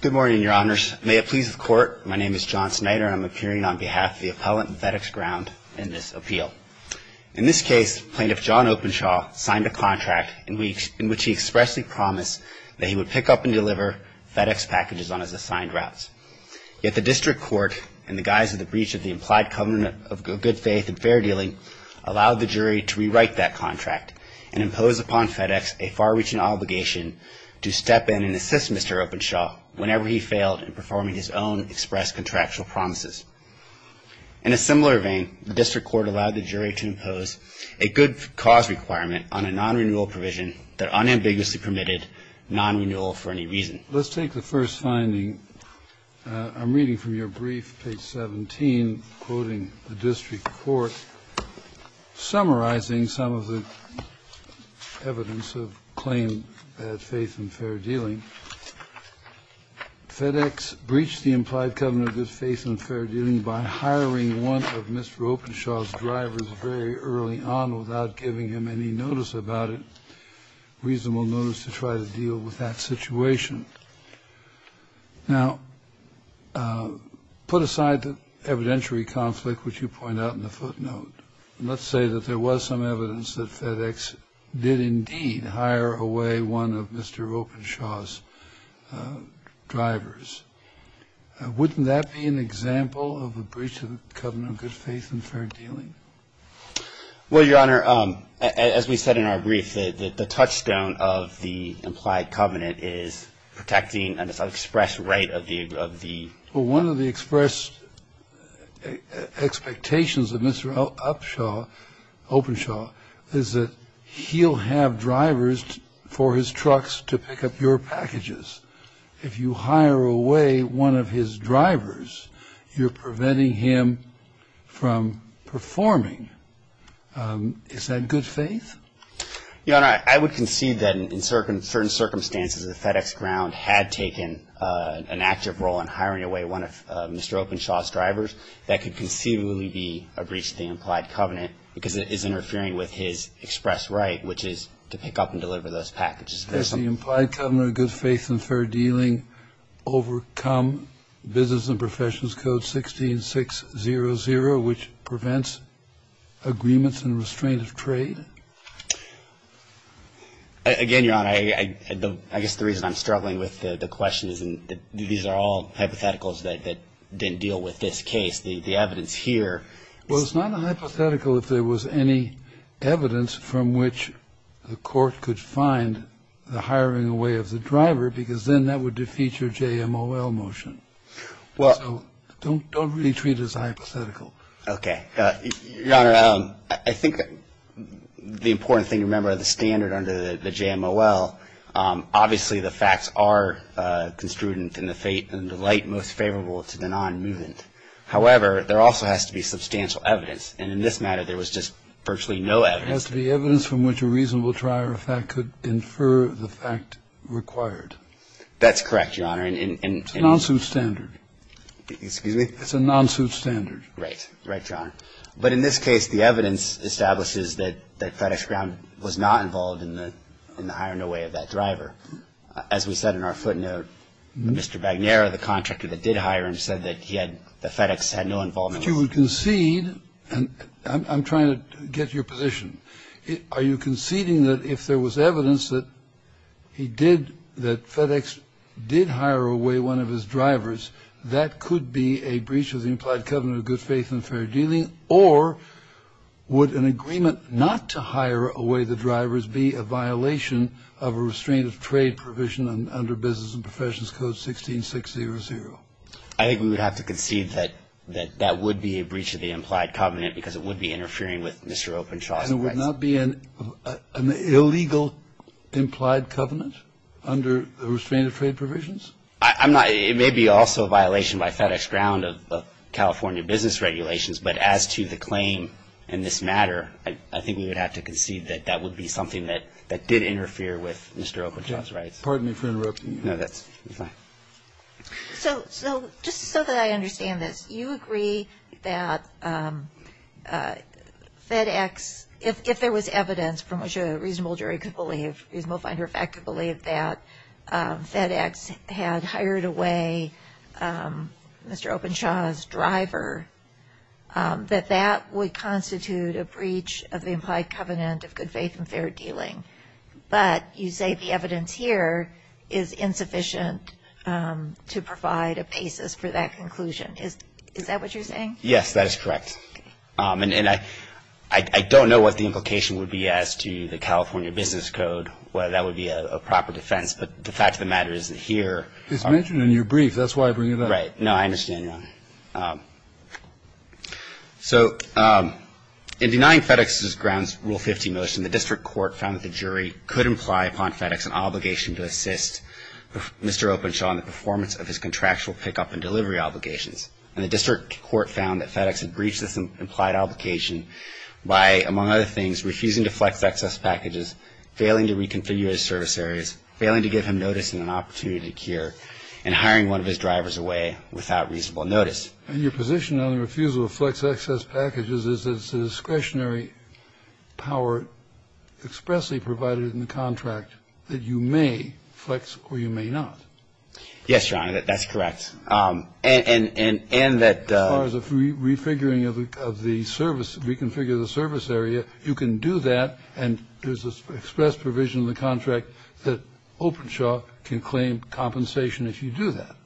Good morning, your honors. May it please the court, my name is John Snyder and I'm appearing on behalf of the appellant in FedEx Ground in this appeal. In this case, Plaintiff John Openshaw signed a contract in which he expressly promised that he would pick up and deliver FedEx packages on his assigned routes. Yet the district court, in the guise of the breach of the implied covenant of good faith and fair dealing, allowed the jury to rewrite that contract and impose upon FedEx a far-reaching obligation to step in and assist Mr. Openshaw whenever he failed in performing his own expressed contractual promises. In a similar vein, the district court allowed the jury to impose a good cause requirement on a non-renewal provision that unambiguously permitted non-renewal for any reason. Let's take the first finding. I'm reading from your brief, page 17, quoting the district court, summarizing some of the evidence of claim that faith and fair dealing. FedEx breached the implied covenant of good faith and fair dealing by hiring one of Mr. Openshaw's drivers very early on without giving him any notice about it, reasonable notice to try to deal with that situation. Now, put aside the evidentiary conflict, which you point out in the footnote, and let's say that there was some evidence that FedEx did indeed hire away one of Mr. Openshaw's drivers. Wouldn't that be an example of a breach of the covenant of good faith and fair dealing? Well, Your Honor, as we said in our brief, the touchstone of the implied covenant is protecting an express right of the One of the express expectations of Mr. Upshaw, Openshaw, is that he'll have drivers for his trucks to pick up your packages. If you hire away one of his drivers, you're preventing him from performing. Is that good faith? Your Honor, I would concede that in certain circumstances, the FedEx ground had taken an active role in hiring away one of Mr. Openshaw's drivers. That could conceivably be a breach of the implied covenant because it is interfering with his express right, which is to pick up and deliver those packages. Does the implied covenant of good faith and fair dealing overcome business and professions code 16600, which prevents agreements and restraint of trade? Again, Your Honor, I guess the reason I'm struggling with the question is these are all hypotheticals that didn't deal with this case. The evidence here is It's not a hypothetical if there was any evidence from which the court could find the hiring away of the driver because then that would defeat your JMOL motion. Well, don't don't really treat as a hypothetical. Okay. Your Honor, I think the important thing to remember the standard under the JMOL. Obviously, the facts are construed in the fate and the light most favorable to the non-movement. However, there also has to be substantial evidence. And in this matter, there was just virtually no evidence. There has to be evidence from which a reasonable trier of fact could infer the fact required. That's correct, Your Honor. It's a non-suit standard. Excuse me? It's a non-suit standard. Right. Right, Your Honor. But in this case, the evidence establishes that FedEx Ground was not involved in the hiring away of that driver. As we said in our footnote, Mr. Bagnera, the contractor that did hire him, said that he had the FedEx had no involvement. But you would concede and I'm trying to get your position. Are you conceding that if there was evidence that he did that FedEx did hire away one of his drivers, that could be a breach of the implied covenant of good faith and fair dealing? Or would an agreement not to hire away the drivers be a violation of a restraint of trade provision under Business and Professions Code 16600? I think we would have to concede that that would be a breach of the implied covenant because it would be interfering with Mr. Openshaw's rights. And it would not be an illegal implied covenant under the restraint of trade provisions? It may be also a violation by FedEx Ground of California business regulations, but as to the claim in this matter, I think we would have to concede that that would be something that did interfere with Mr. Openshaw's rights. Pardon me for interrupting you. No, that's fine. So just so that I understand this, you agree that FedEx, if there was evidence from which a reasonable jury could believe, a reasonable finder of fact could believe that FedEx had hired away Mr. Openshaw's driver, that that would constitute a breach of the implied covenant of good faith and fair dealing. But you say the evidence here is insufficient to provide a basis for that conclusion. Is that what you're saying? Yes, that is correct. And I don't know what the implication would be as to the California business code, whether that would be a proper defense. But the fact of the matter is that here ---- It's mentioned in your brief. That's why I bring it up. Right. No, I understand, Your Honor. So in denying FedEx's grounds rule 15 motion, the district court found that the jury could imply upon FedEx an obligation to assist Mr. Openshaw in the performance of his contractual pickup and delivery obligations. And the district court found that FedEx had breached this implied obligation by, among other things, refusing to flex excess packages, failing to reconfigure his service areas, failing to give him notice and an opportunity to cure, and hiring one of his drivers away without reasonable notice. And your position on the refusal to flex excess packages is that it's a discretionary power expressly provided in the contract that you may flex or you may not. Yes, Your Honor, that's correct. And that ---- As far as a refiguring of the service, reconfigure the service area, you can do that, and there's an express provision in the contract that Openshaw can claim compensation if you do that.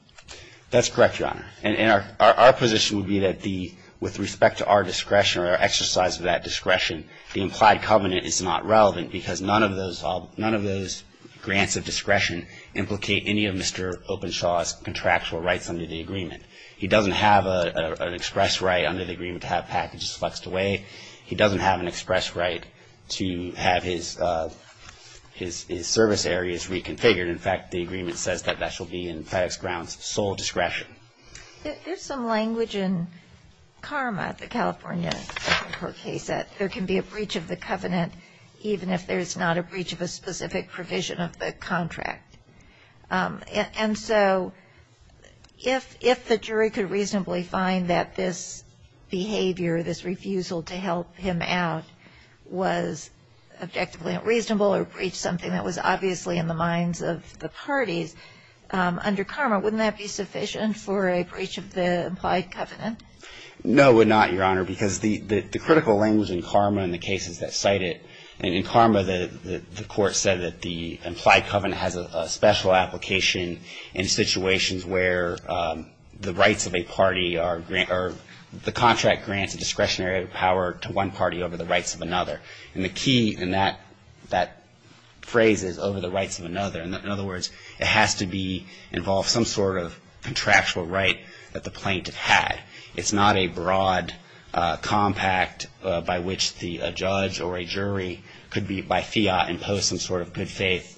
That's correct, Your Honor. And our position would be that the ---- with respect to our discretion or our exercise of that discretion, the implied covenant is not relevant because none of those grants of discretion implicate any of Mr. Openshaw's contractual rights under the agreement. He doesn't have an express right under the agreement to have packages flexed away. He doesn't have an express right to have his service areas reconfigured. In fact, the agreement says that that shall be in FedEx grounds sole discretion. There's some language in CARMA, the California court case, that there can be a breach of the covenant even if there's not a breach of a specific provision of the contract. And so if the jury could reasonably find that this behavior, this refusal to help him out was objectively unreasonable or breached something that was obviously in the minds of the parties, under CARMA wouldn't that be sufficient for a breach of the implied covenant? No, it would not, Your Honor, because the critical language in CARMA and the cases that cite it, in CARMA the court said that the implied covenant has a special application in situations where the rights of a party are, the contract grants a discretionary power to one party over the rights of another. And the key in that phrase is over the rights of another. In other words, it has to involve some sort of contractual right that the plaintiff had. It's not a broad compact by which a judge or a jury could be, by fiat, impose some sort of good faith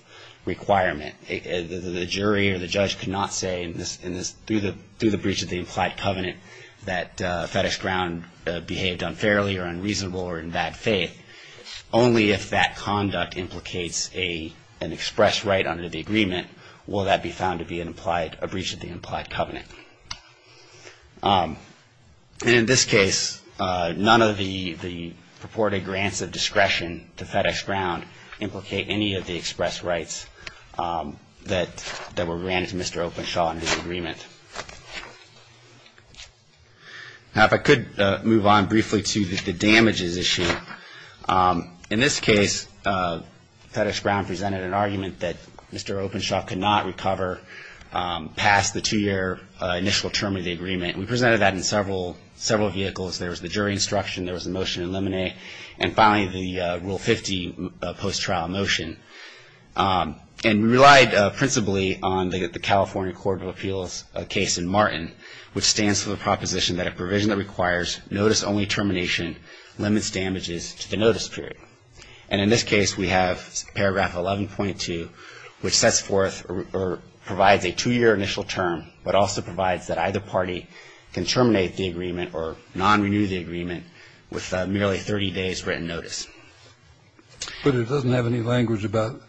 requirement. The jury or the judge cannot say through the breach of the implied covenant that FedEx ground behaved unfairly or unreasonable or in bad faith. Only if that conduct implicates an express right under the agreement will that be found to be a breach of the implied covenant. And in this case, none of the purported grants of discretion to FedEx ground implicate any of the express rights that were granted to Mr. Openshaw and his agreement. Now, if I could move on briefly to the damages issue. In this case, FedEx ground presented an argument that Mr. Openshaw could not recover past the two-year initial term of the agreement. We presented that in several vehicles. There was the jury instruction. There was a motion to eliminate. And finally, the Rule 50 post-trial motion. And we relied principally on the California Court of Appeals case in Martin, which stands for the proposition that a provision that requires notice-only termination limits damages to the notice period. And in this case, we have paragraph 11.2, which sets forth or provides a two-year initial term, but also provides that either party can terminate the agreement or non-renew the agreement with merely 30 days' written notice. But it doesn't have any language about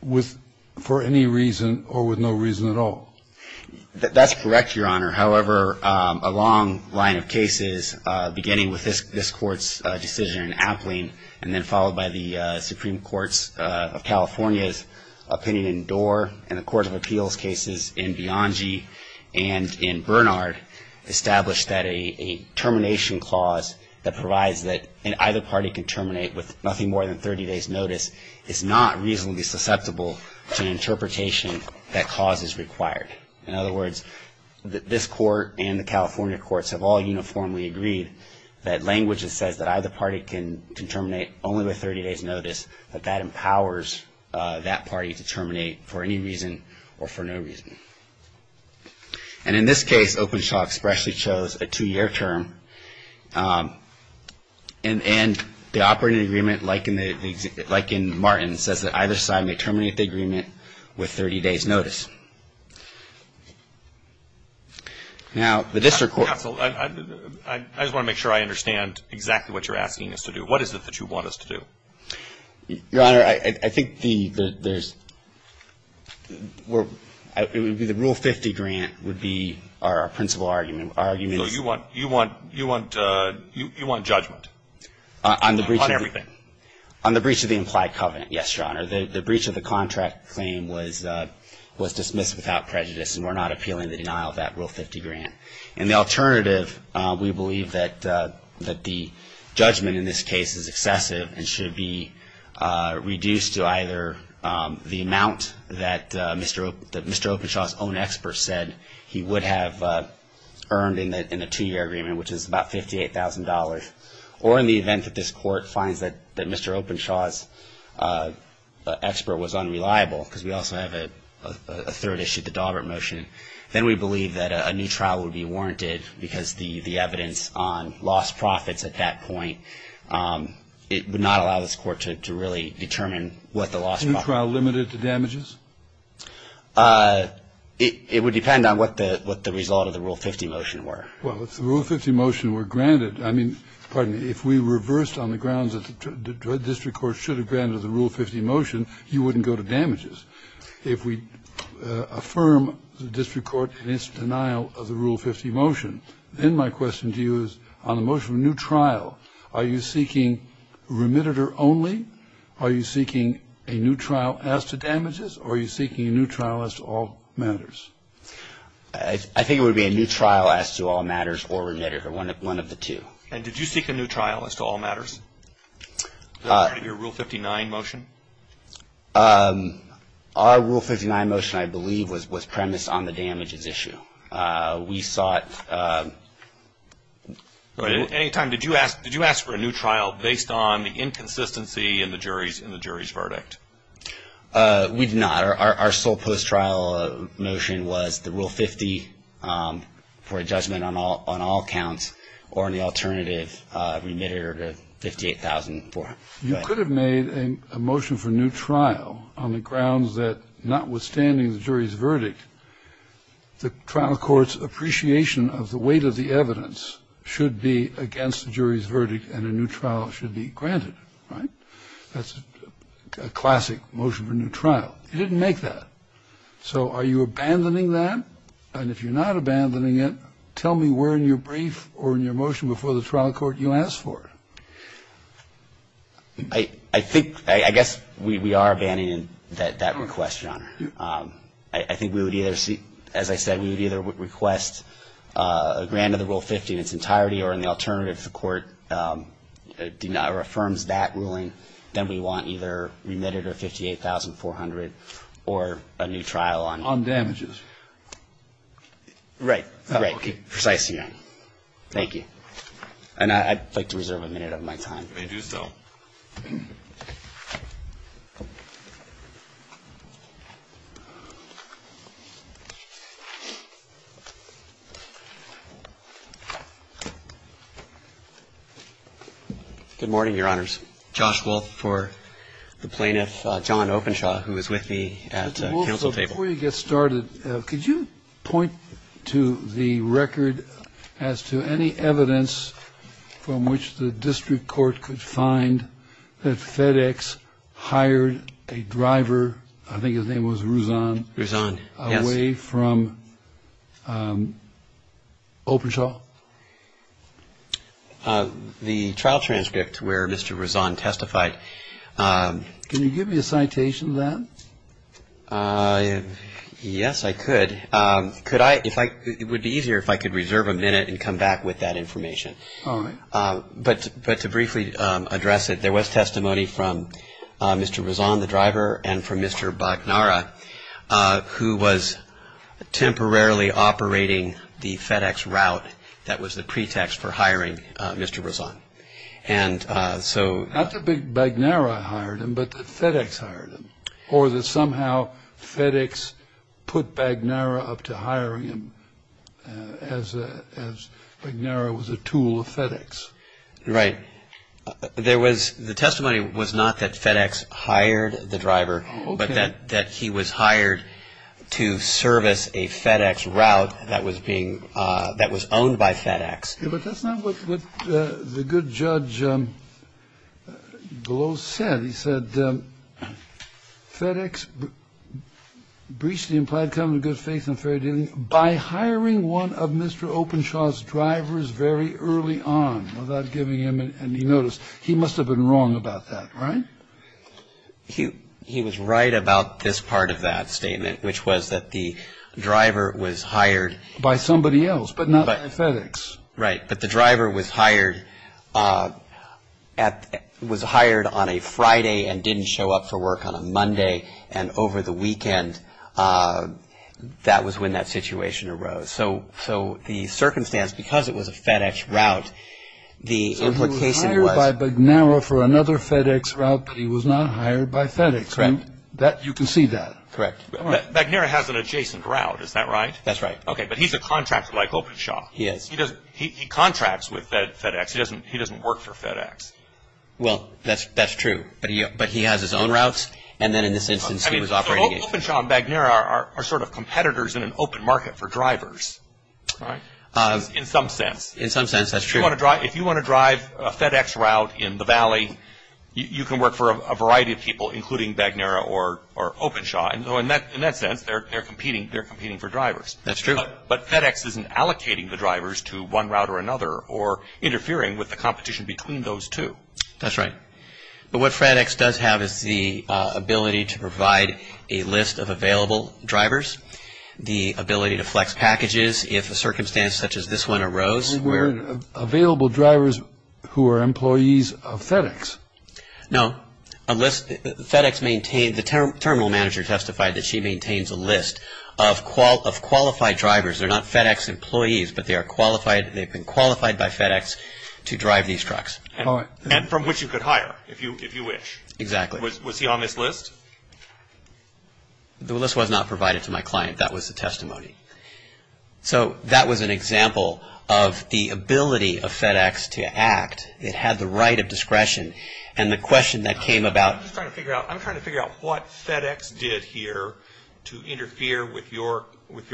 with for any reason or with no reason at all. That's correct, Your Honor. However, a long line of cases, beginning with this Court's decision in Appling and then followed by the Supreme Court's of California's opinion in Doar and the Court of Appeals cases in Bianchi and in Bernard, established that a termination clause that provides that either party can terminate with nothing more than 30 days' notice is not reasonably susceptible to an interpretation that cause is required. In other words, this Court and the California Courts have all uniformly agreed that language that says that either party can terminate only with 30 days' notice, that that empowers that party to terminate for any reason or for no reason. And in this case, Openshaw expressly chose a two-year term. And the operating agreement, like in Martin, says that either side may terminate the agreement with 30 days' notice. Now, the district court. Counsel, I just want to make sure I understand exactly what you're asking us to do. What is it that you want us to do? Your Honor, I think the rule 50 grant would be our principal argument. So you want judgment on everything? On the breach of the implied covenant. Yes, Your Honor. The breach of the contract claim was dismissed without prejudice, and we're not appealing the denial of that rule 50 grant. And the alternative, we believe that the judgment in this case is excessive and should be reduced to either the amount that Mr. Openshaw's own experts said he would have earned in the two-year agreement, which is about $58,000, or in the event that this Court finds that Mr. Openshaw's expert was unreliable, because we also have a third issue, the Daubert motion, then we believe that a new trial would be warranted, because the evidence on lost profits at that point, it would not allow this Court to really determine what the lost profits were. A new trial limited to damages? It would depend on what the result of the rule 50 motion were. Well, if the rule 50 motion were granted, I mean, pardon me, if we reversed on the grounds that the district court should have granted the rule 50 motion, you wouldn't go to damages. If we affirm the district court in its denial of the rule 50 motion, then my question to you is on the motion of a new trial, are you seeking remittitor only? Are you seeking a new trial as to damages, or are you seeking a new trial as to all matters? I think it would be a new trial as to all matters or remittitor, one of the two. And did you seek a new trial as to all matters? Is that part of your rule 59 motion? Our rule 59 motion, I believe, was premised on the damages issue. We sought... At any time, did you ask for a new trial based on the inconsistency in the jury's verdict? We did not. Our sole post-trial motion was the rule 50 for a judgment on all counts or the alternative remitter to 58,000 for. You could have made a motion for a new trial on the grounds that notwithstanding the jury's verdict, the trial court's appreciation of the weight of the evidence should be against the jury's verdict and a new trial should be granted, right? That's a classic motion for a new trial. You didn't make that. So are you abandoning that? And if you're not abandoning it, tell me where in your brief or in your motion before the trial court you asked for it. I think, I guess we are abandoning that request, Your Honor. I think we would either seek, as I said, we would either request a grant of the rule 50 in its entirety or in the alternative the court affirms that ruling, then we want either remitted or 58,400 or a new trial on. On damages. Right. Right. Precisely, Your Honor. Thank you. And I'd like to reserve a minute of my time. You may do so. Good morning, Your Honors. Josh Wolfe for the plaintiff, John Openshaw, who is with me at the council table. Mr. Wolfe, before you get started, could you point to the record as to any evidence from which the district court could find that FedEx hired a driver? I think his name was Ruzan. Ruzan, yes. Away from Openshaw? The trial transcript where Mr. Ruzan testified. Can you give me a citation of that? Yes, I could. It would be easier if I could reserve a minute and come back with that information. All right. But to briefly address it, there was testimony from Mr. Ruzan, the driver, and from Mr. Bagnara, who was temporarily operating the FedEx route that was the pretext for hiring Mr. Ruzan. Not that Bagnara hired him, but that FedEx hired him, or that somehow FedEx put Bagnara up to hiring him as Bagnara was a tool of FedEx. Right. The testimony was not that FedEx hired the driver, but that he was hired to service a FedEx route that was owned by FedEx. But that's not what the good judge Glow said. He said FedEx briefly implied common good, faith, and fair dealing by hiring one of Mr. Openshaw's drivers very early on without giving him any notice. He must have been wrong about that, right? He was right about this part of that statement, which was that the driver was hired by somebody else, but not by FedEx. Right. But the driver was hired on a Friday and didn't show up for work on a Monday, and over the weekend that was when that situation arose. So the circumstance, because it was a FedEx route, the implication was – So he was hired by Bagnara for another FedEx route, but he was not hired by FedEx. Right. You can see that. Correct. Bagnara has an adjacent route, is that right? That's right. Okay, but he's a contractor like Openshaw. Yes. He contracts with FedEx. He doesn't work for FedEx. Well, that's true. But he has his own routes, and then in this instance he was operating – So Openshaw and Bagnara are sort of competitors in an open market for drivers, right? In some sense. In some sense, that's true. If you want to drive a FedEx route in the Valley, you can work for a variety of people, including Bagnara or Openshaw. In that sense, they're competing for drivers. That's true. But FedEx isn't allocating the drivers to one route or another or interfering with the competition between those two. That's right. But what FedEx does have is the ability to provide a list of available drivers, the ability to flex packages if a circumstance such as this one arose where – Available drivers who are employees of FedEx. No. FedEx maintains – the terminal manager testified that she maintains a list of qualified drivers. They're not FedEx employees, but they've been qualified by FedEx to drive these trucks. And from which you could hire if you wish. Exactly. Was he on this list? The list was not provided to my client. That was the testimony. So that was an example of the ability of FedEx to act. It had the right of discretion. And the question that came about – I'm trying to figure out what FedEx did here to interfere with what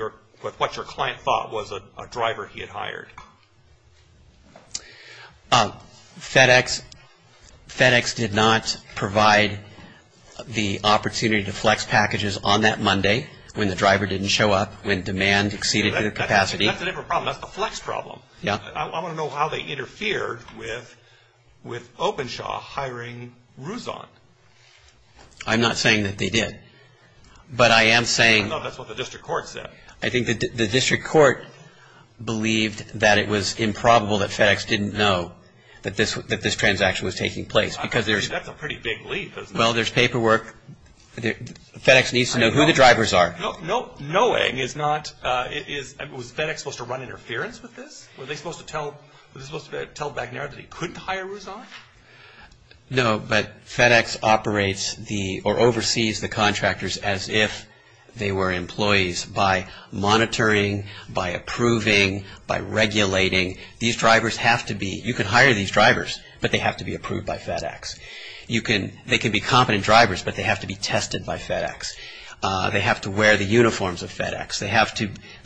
your client thought was a driver he had hired. FedEx did not provide the opportunity to flex packages on that Monday when the driver didn't show up, when demand exceeded capacity. That's a different problem. That's the flex problem. Yeah. I want to know how they interfered with Openshaw hiring Rouson. I'm not saying that they did. But I am saying – I thought that's what the district court said. I think the district court believed that it was improbable that FedEx didn't know that this transaction was taking place. That's a pretty big leap, isn't it? Well, there's paperwork. FedEx needs to know who the drivers are. Knowing is not – was FedEx supposed to run interference with this? Were they supposed to tell McNair that he couldn't hire Rouson? No, but FedEx operates or oversees the contractors as if they were employees by monitoring, by approving, by regulating. These drivers have to be – you can hire these drivers, but they have to be approved by FedEx. They can be competent drivers, but they have to be tested by FedEx. They have to wear the uniforms of FedEx. They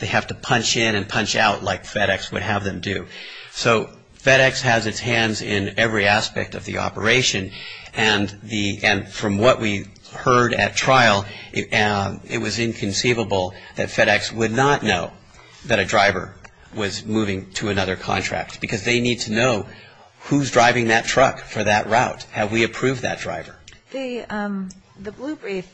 have to punch in and punch out like FedEx would have them do. So FedEx has its hands in every aspect of the operation. And from what we heard at trial, it was inconceivable that FedEx would not know that a driver was moving to another contract because they need to know who's driving that truck for that route. Have we approved that driver? The blue brief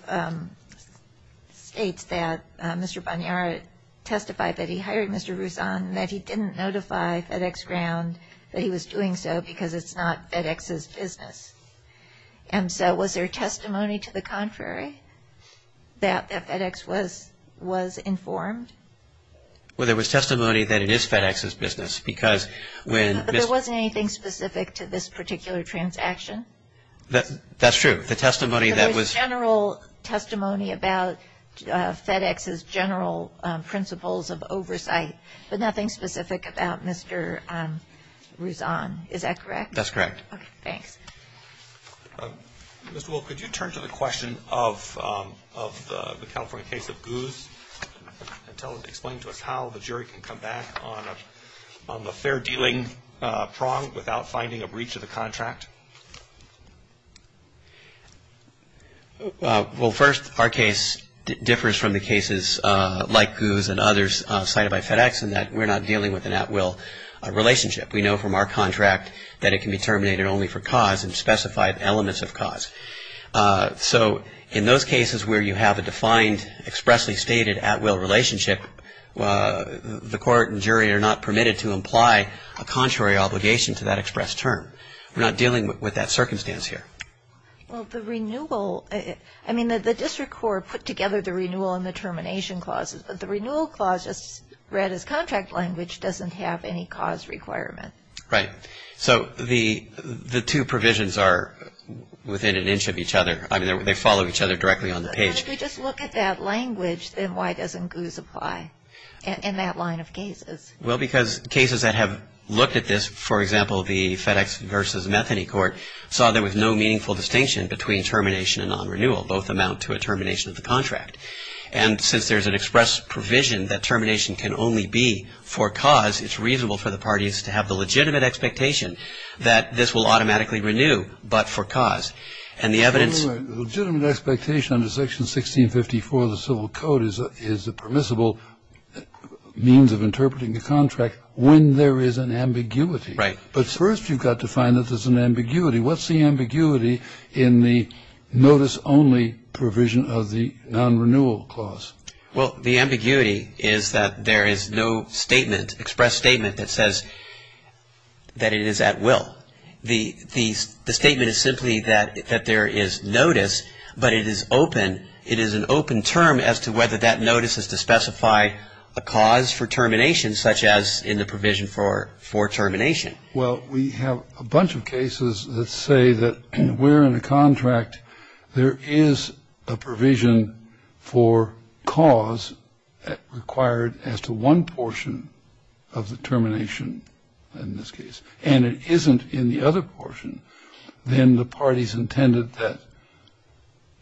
states that Mr. Boniara testified that he hired Mr. Rouson, that he didn't notify FedEx ground that he was doing so because it's not FedEx's business. And so was there testimony to the contrary that FedEx was informed? Well, there was testimony that it is FedEx's business because when – But there wasn't anything specific to this particular transaction? That's true. The testimony that was – There was general testimony about FedEx's general principles of oversight, but nothing specific about Mr. Rouson. Is that correct? That's correct. Okay, thanks. Mr. Wolf, could you turn to the question of the California case of Goose and explain to us how the jury can come back on the fair dealing prong without finding a breach of the contract? Well, first, our case differs from the cases like Goose and others cited by FedEx in that we're not dealing with an at-will relationship. We know from our contract that it can be terminated only for cause and specified elements of cause. So in those cases where you have a defined, expressly stated at-will relationship, the court and jury are not permitted to imply a contrary obligation to that expressed term. We're not dealing with that circumstance here. Well, the renewal – I mean, the district court put together the renewal and the termination clauses, but the renewal clause, as read as contract language, doesn't have any cause requirement. Right. So the two provisions are within an inch of each other. I mean, they follow each other directly on the page. Well, if we just look at that language, then why doesn't Goose apply in that line of cases? Well, because cases that have looked at this, for example, the FedEx versus Metheny court, saw there was no meaningful distinction between termination and non-renewal. Both amount to a termination of the contract. And since there's an express provision that termination can only be for cause, it's reasonable for the parties to have the legitimate expectation that this will automatically renew but for cause. And the evidence – Legitimate expectation under Section 1654 of the Civil Code is a permissible means of interpreting the contract when there is an ambiguity. Right. But first you've got to find that there's an ambiguity. What's the ambiguity in the notice-only provision of the non-renewal clause? Well, the ambiguity is that there is no statement, express statement, that says that it is at will. The statement is simply that there is notice, but it is open. It is an open term as to whether that notice is to specify a cause for termination, such as in the provision for termination. Well, we have a bunch of cases that say that we're in a contract. There is a provision for cause required as to one portion of the termination in this case. And it isn't in the other portion than the parties intended that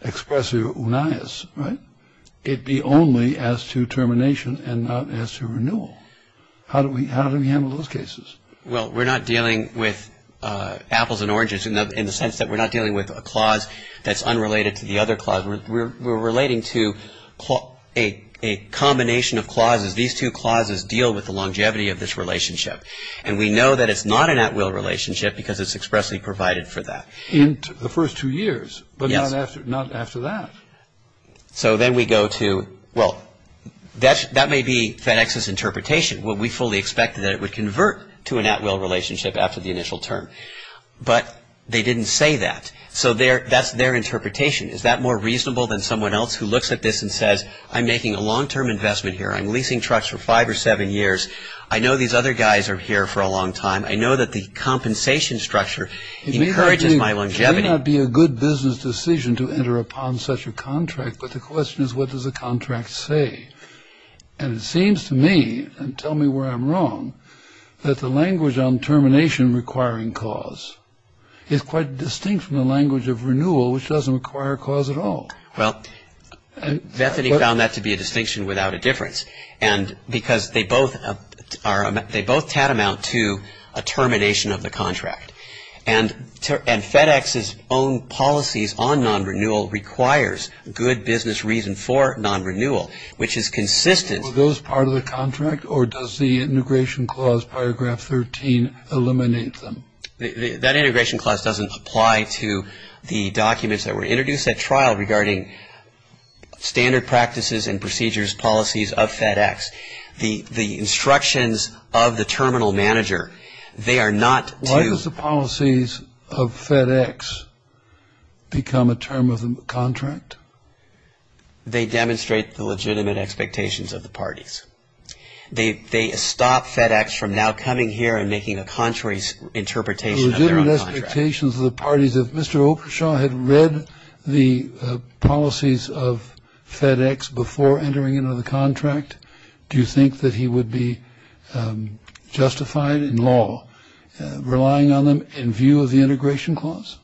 express unias, right? It be only as to termination and not as to renewal. How do we handle those cases? Well, we're not dealing with apples and oranges in the sense that we're not dealing with a clause that's unrelated to the other clause. We're relating to a combination of clauses. These two clauses deal with the longevity of this relationship. And we know that it's not an at-will relationship because it's expressly provided for that. In the first two years, but not after that. So then we go to, well, that may be FedEx's interpretation. We fully expected that it would convert to an at-will relationship after the initial term. But they didn't say that. So that's their interpretation. Is that more reasonable than someone else who looks at this and says, I'm making a long-term investment here. I'm leasing trucks for five or seven years. I know these other guys are here for a long time. I know that the compensation structure encourages my longevity. It may not be a good business decision to enter upon such a contract. But the question is, what does the contract say? And it seems to me, and tell me where I'm wrong, that the language on termination requiring cause is quite distinct from the language of renewal, which doesn't require cause at all. Well, Bethany found that to be a distinction without a difference. And because they both are, they both tantamount to a termination of the contract. And FedEx's own policies on non-renewal requires good business reason for non-renewal, which is consistent. Are those part of the contract, or does the integration clause, paragraph 13, eliminate them? That integration clause doesn't apply to the documents that were introduced at trial regarding standard practices and procedures, policies of FedEx. The instructions of the terminal manager, they are not to. Why does the policies of FedEx become a term of the contract? They demonstrate the legitimate expectations of the parties. They stop FedEx from now coming here and making a contrary interpretation of their own contract. If Mr. Oprishaw had read the policies of FedEx before entering into the contract, do you think that he would be justified in law relying on them in view of the integration clause?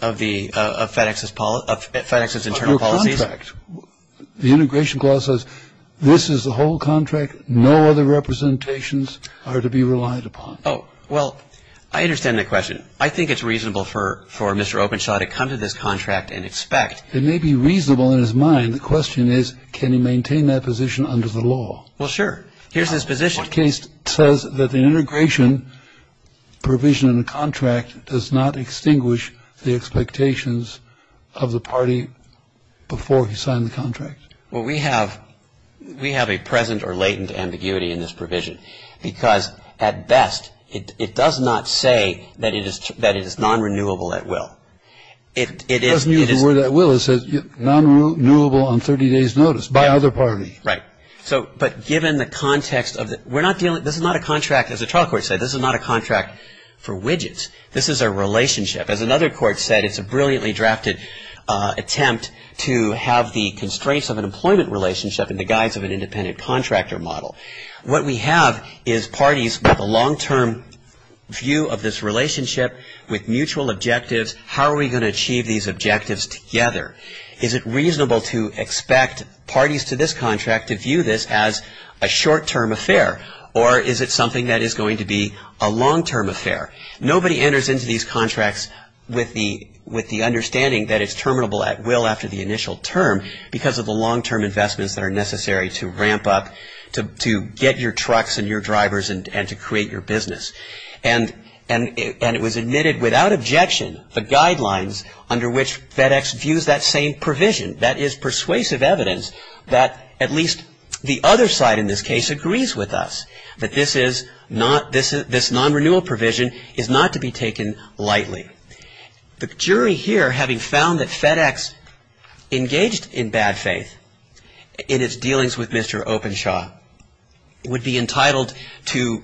Of FedEx's internal policies? Of the contract. The integration clause says this is the whole contract. No other representations are to be relied upon. Oh, well, I understand the question. I think it's reasonable for Mr. Oprishaw to come to this contract and expect. It may be reasonable in his mind. The question is can he maintain that position under the law? Well, sure. Here's his position. The case says that the integration provision in the contract does not extinguish the expectations of the party before he signed the contract. Well, we have a present or latent ambiguity in this provision because, at best, it does not say that it is non-renewable at will. It doesn't use the word at will. It says non-renewable on 30 days' notice by other parties. Right. But given the context of the – we're not dealing – this is not a contract, as the trial court said. This is not a contract for widgets. This is a relationship. As another court said, it's a brilliantly drafted attempt to have the constraints of an employment relationship in the guise of an independent contractor model. What we have is parties with a long-term view of this relationship with mutual objectives. How are we going to achieve these objectives together? Is it reasonable to expect parties to this contract to view this as a short-term affair? Or is it something that is going to be a long-term affair? Nobody enters into these contracts with the understanding that it's terminable at will after the initial term because of the long-term investments that are necessary to ramp up – to get your trucks and your drivers and to create your business. And it was admitted without objection the guidelines under which FedEx views that same provision. That is persuasive evidence that at least the other side in this case agrees with us, that this non-renewal provision is not to be taken lightly. The jury here, having found that FedEx engaged in bad faith in its dealings with Mr. Openshaw, would be entitled to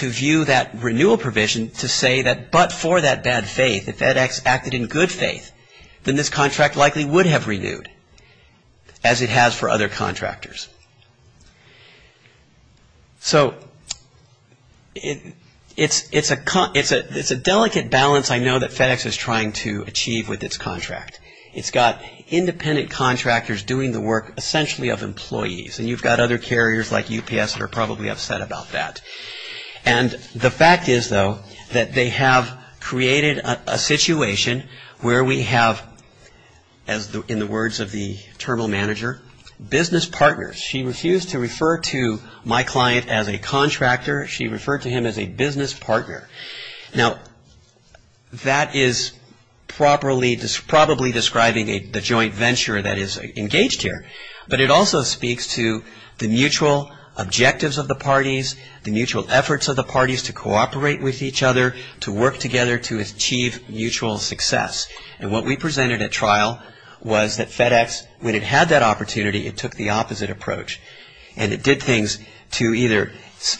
view that renewal provision to say that but for that bad faith, that FedEx acted in good faith, then this contract likely would have renewed as it has for other contractors. So it's a delicate balance I know that FedEx is trying to achieve with its contract. It's got independent contractors doing the work essentially of employees, and you've got other carriers like UPS that are probably upset about that. And the fact is, though, that they have created a situation where we have, in the words of the Terminal Manager, business partners. She refused to refer to my client as a contractor. She referred to him as a business partner. Now, that is probably describing the joint venture that is engaged here, But it also speaks to the mutual objectives of the parties, the mutual efforts of the parties to cooperate with each other, to work together to achieve mutual success. And what we presented at trial was that FedEx, when it had that opportunity, it took the opposite approach. And it did things to either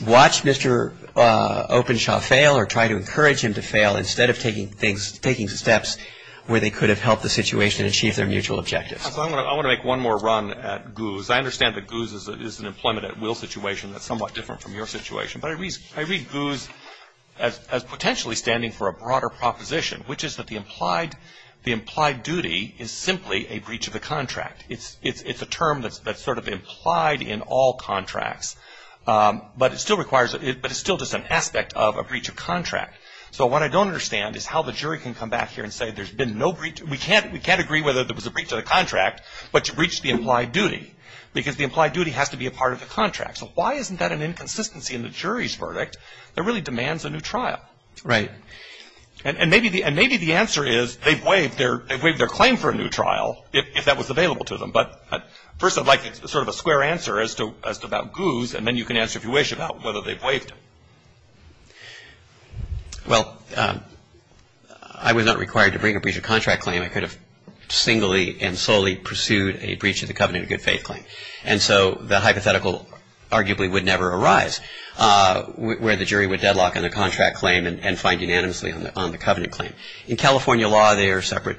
watch Mr. Openshaw fail or try to encourage him to fail instead of taking steps where they could have helped the situation achieve their mutual objectives. I want to make one more run at GOOS. I understand that GOOS is an employment at will situation that's somewhat different from your situation. But I read GOOS as potentially standing for a broader proposition, which is that the implied duty is simply a breach of the contract. It's a term that's sort of implied in all contracts. But it's still just an aspect of a breach of contract. So what I don't understand is how the jury can come back here and say there's been no breach. We can't agree whether there was a breach of the contract, but you breached the implied duty because the implied duty has to be a part of the contract. So why isn't that an inconsistency in the jury's verdict that really demands a new trial? Right. And maybe the answer is they've waived their claim for a new trial if that was available to them. But first I'd like sort of a square answer as to about GOOS, and then you can answer if you wish about whether they've waived it. Well, I was not required to bring a breach of contract claim. I could have singly and solely pursued a breach of the covenant of good faith claim. And so the hypothetical arguably would never arise where the jury would deadlock on the contract claim and find unanimously on the covenant claim. In California law, they are separate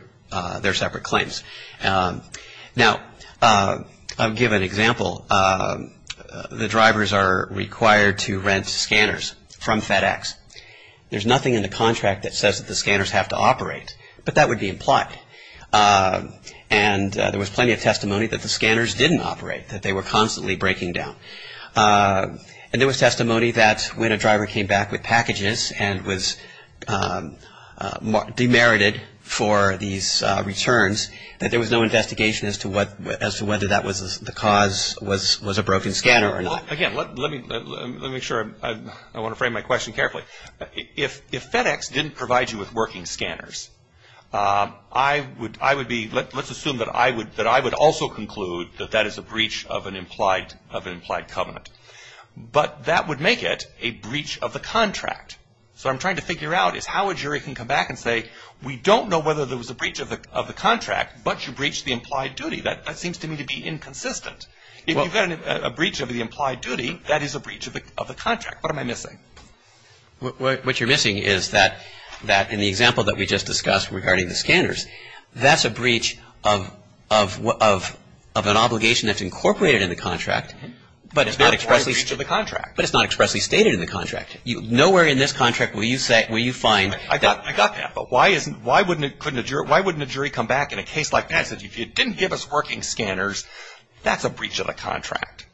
claims. Now, I'll give an example. The drivers are required to rent scanners from FedEx. There's nothing in the contract that says that the scanners have to operate, but that would be implied. And there was plenty of testimony that the scanners didn't operate, that they were constantly breaking down. And there was testimony that when a driver came back with packages and was demerited for these returns, that there was no investigation as to whether the cause was a broken scanner or not. Again, let me make sure I want to frame my question carefully. If FedEx didn't provide you with working scanners, I would be, let's assume that I would also conclude that that is a breach of an implied covenant. But that would make it a breach of the contract. So what I'm trying to figure out is how a jury can come back and say, we don't know whether there was a breach of the contract, but you breached the implied duty. That seems to me to be inconsistent. If you've got a breach of the implied duty, that is a breach of the contract. What am I missing? What you're missing is that in the example that we just discussed regarding the scanners, that's a breach of an obligation that's incorporated in the contract, but it's not expressly stated in the contract. Nowhere in this contract will you find that. I got that. But why wouldn't a jury come back in a case like that and say, if you didn't give us working scanners, that's a breach of the contract.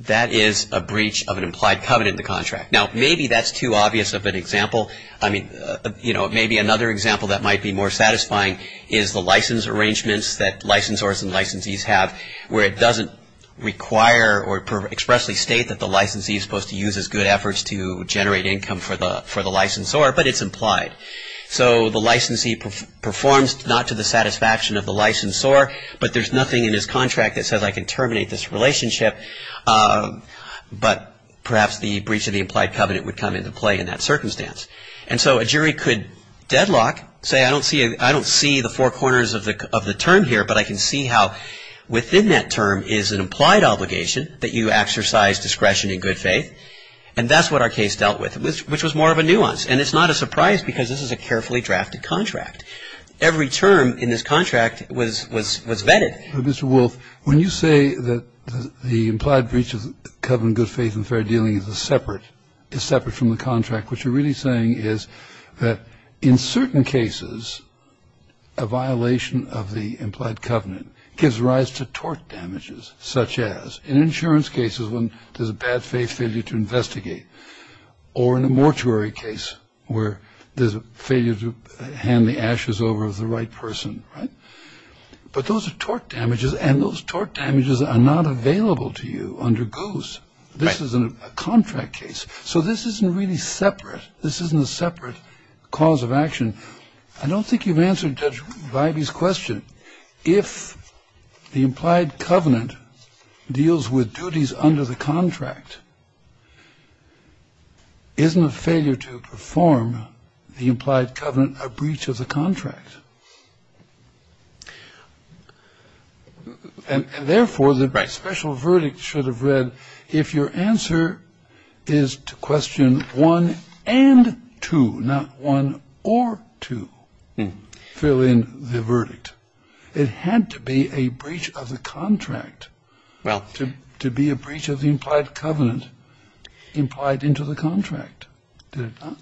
That is a breach of an implied covenant in the contract. Now, maybe that's too obvious of an example. I mean, you know, maybe another example that might be more satisfying is the license arrangements that licensors and licensees have where it doesn't require or expressly state that the licensee is supposed to use his good efforts to generate income for the licensor, but it's implied. So the licensee performs not to the satisfaction of the licensor, but there's nothing in this contract that says I can terminate this relationship, but perhaps the breach of the implied covenant would come into play in that circumstance. And so a jury could deadlock, say, I don't see the four corners of the term here, but I can see how within that term is an implied obligation that you exercise discretion and good faith, and that's what our case dealt with, which was more of a nuance. And it's not a surprise because this is a carefully drafted contract. Every term in this contract was vetted. But, Mr. Wolf, when you say that the implied breach of the covenant of good faith and fair dealing is separate from the contract, what you're really saying is that in certain cases, a violation of the implied covenant gives rise to tort damages, such as in insurance cases when there's a bad faith failure to investigate or in a mortuary case where there's a failure to hand the ashes over of the right person, right? But those are tort damages, and those tort damages are not available to you under goose. This is a contract case. So this isn't really separate. This isn't a separate cause of action. I don't think you've answered Judge Vibey's question. If the implied covenant deals with duties under the contract, isn't a failure to perform the implied covenant a breach of the contract? And, therefore, the special verdict should have read, If your answer is to question one and two, not one or two, fill in the verdict. It had to be a breach of the contract to be a breach of the implied covenant implied into the contract. Did it not?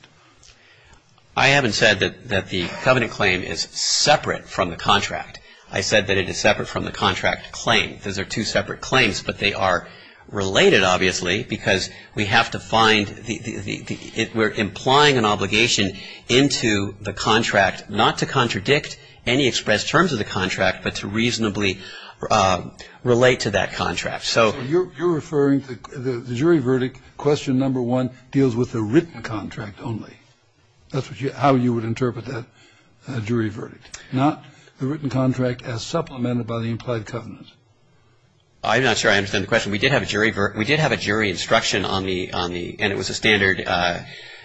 I haven't said that the covenant claim is separate from the contract. I said that it is separate from the contract claim. Those are two separate claims, but they are related, obviously, because we have to find the ‑‑ we're implying an obligation into the contract not to contradict any expressed terms of the contract, but to reasonably relate to that contract. So you're referring to the jury verdict, question number one, deals with the written contract only. That's how you would interpret that jury verdict. Not the written contract as supplemented by the implied covenant. I'm not sure I understand the question. We did have a jury instruction on the ‑‑ and it was a standard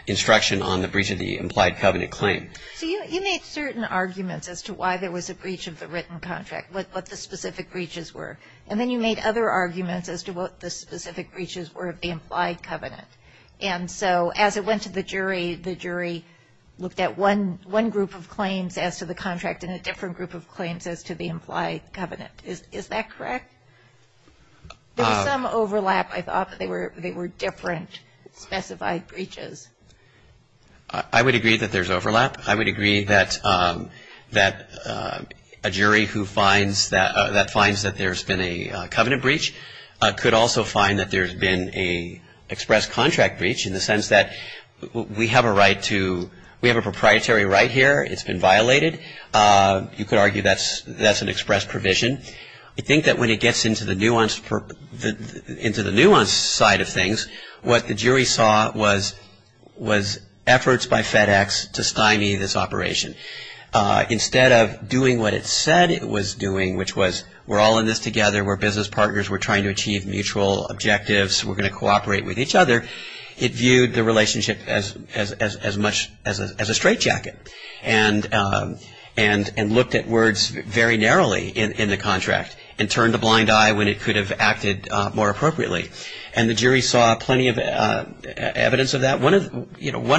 instruction on the breach of the implied covenant claim. So you made certain arguments as to why there was a breach of the written contract, what the specific breaches were, and then you made other arguments as to what the specific breaches were of the implied covenant. And so as it went to the jury, the jury looked at one group of claims as to the contract and a different group of claims as to the implied covenant. Is that correct? There was some overlap. I thought that they were different specified breaches. I would agree that there's overlap. I would agree that a jury who finds that there's been a covenant breach could also find that there's been an express contract breach in the sense that we have a proprietary right here. It's been violated. You could argue that's an express provision. I think that when it gets into the nuance side of things, what the jury saw was efforts by FedEx to stymie this operation. Instead of doing what it said it was doing, which was we're all in this together. We're business partners. We're trying to achieve mutual objectives. We're going to cooperate with each other. It viewed the relationship as a straitjacket and looked at words very narrowly in the contract and turned a blind eye when it could have acted more appropriately. And the jury saw plenty of evidence of that. One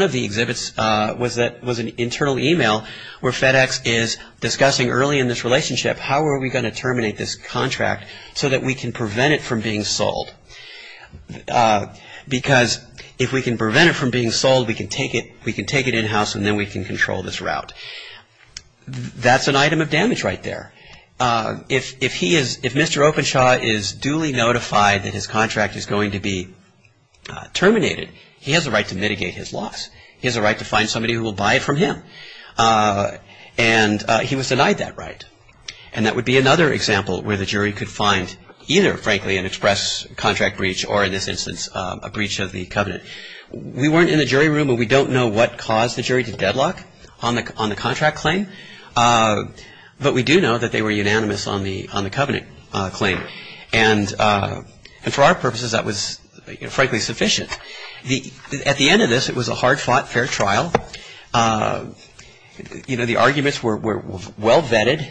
of the exhibits was an internal email where FedEx is discussing early in this relationship how are we going to terminate this contract so that we can prevent it from being sold. Because if we can prevent it from being sold, we can take it in-house and then we can control this route. That's an item of damage right there. If Mr. Openshaw is duly notified that his contract is going to be terminated, he has a right to mitigate his loss. He has a right to find somebody who will buy it from him. And he was denied that right. And that would be another example where the jury could find either, frankly, an express contract breach or, in this instance, a breach of the covenant. We weren't in the jury room and we don't know what caused the jury to deadlock on the contract claim, but we do know that they were unanimous on the covenant claim. And for our purposes that was, frankly, sufficient. At the end of this, it was a hard-fought fair trial. The arguments were well vetted.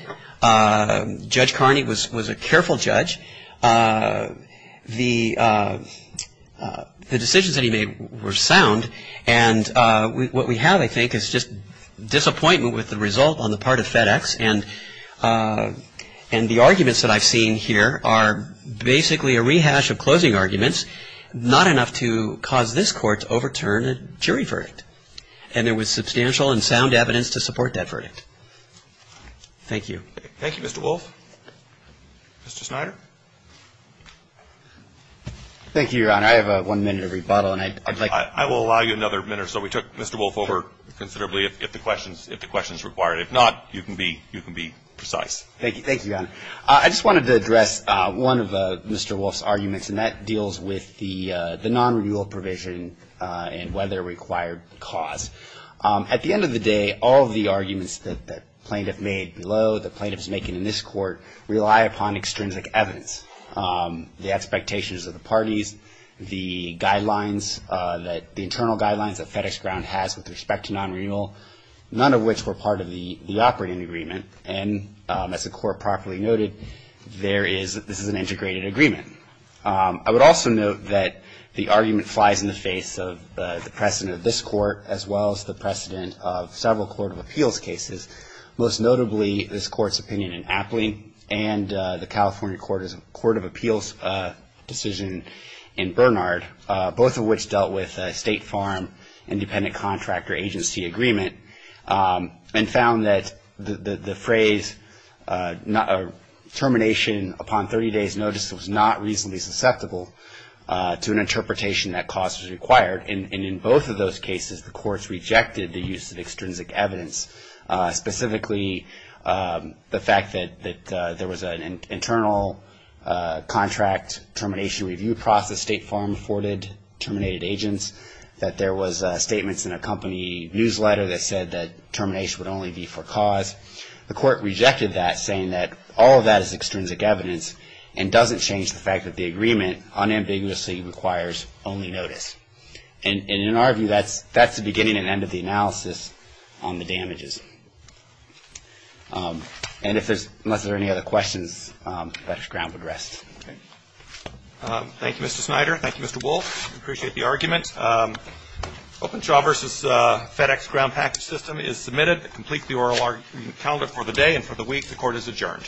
Judge Carney was a careful judge. The decisions that he made were sound. And what we have, I think, is just disappointment with the result on the part of FedEx. And the arguments that I've seen here are basically a rehash of closing arguments, which is not enough to cause this Court to overturn a jury verdict. And there was substantial and sound evidence to support that verdict. Thank you. Thank you, Mr. Wolff. Mr. Snyder. Thank you, Your Honor. I have one minute of rebuttal and I'd like to ---- I will allow you another minute or so. We took Mr. Wolff over considerably if the question is required. If not, you can be precise. Thank you. Thank you, Your Honor. I just wanted to address one of Mr. Wolff's arguments, and that deals with the non-renewal provision and whether it required cause. At the end of the day, all of the arguments that the plaintiff made below, the plaintiffs making in this Court, rely upon extrinsic evidence. The expectations of the parties, the guidelines, the internal guidelines that FedEx Ground has with respect to non-renewal, none of which were part of the operating agreement. And as the Court properly noted, this is an integrated agreement. I would also note that the argument flies in the face of the precedent of this Court as well as the precedent of several Court of Appeals cases, most notably this Court's opinion in Apley and the California Court of Appeals decision in Bernard, both of which dealt with a state farm independent contractor agency agreement and found that the phrase, termination upon 30 days notice, was not reasonably susceptible to an interpretation that cause was required. And in both of those cases, the courts rejected the use of extrinsic evidence, specifically the fact that there was an internal contract termination review process, state farm afforded terminated agents, that there was statements in a company newsletter that said that termination would only be for cause. The Court rejected that, saying that all of that is extrinsic evidence and doesn't change the fact that the agreement unambiguously requires only notice. And in our view, that's the beginning and end of the analysis on the damages. And unless there are any other questions, FedEx Ground would rest. Thank you, Mr. Snyder. Thank you, Mr. Wolf. Appreciate the argument. Openshaw v. FedEx Ground Package System is submitted. Complete the oral calendar for the day and for the week. The Court is adjourned.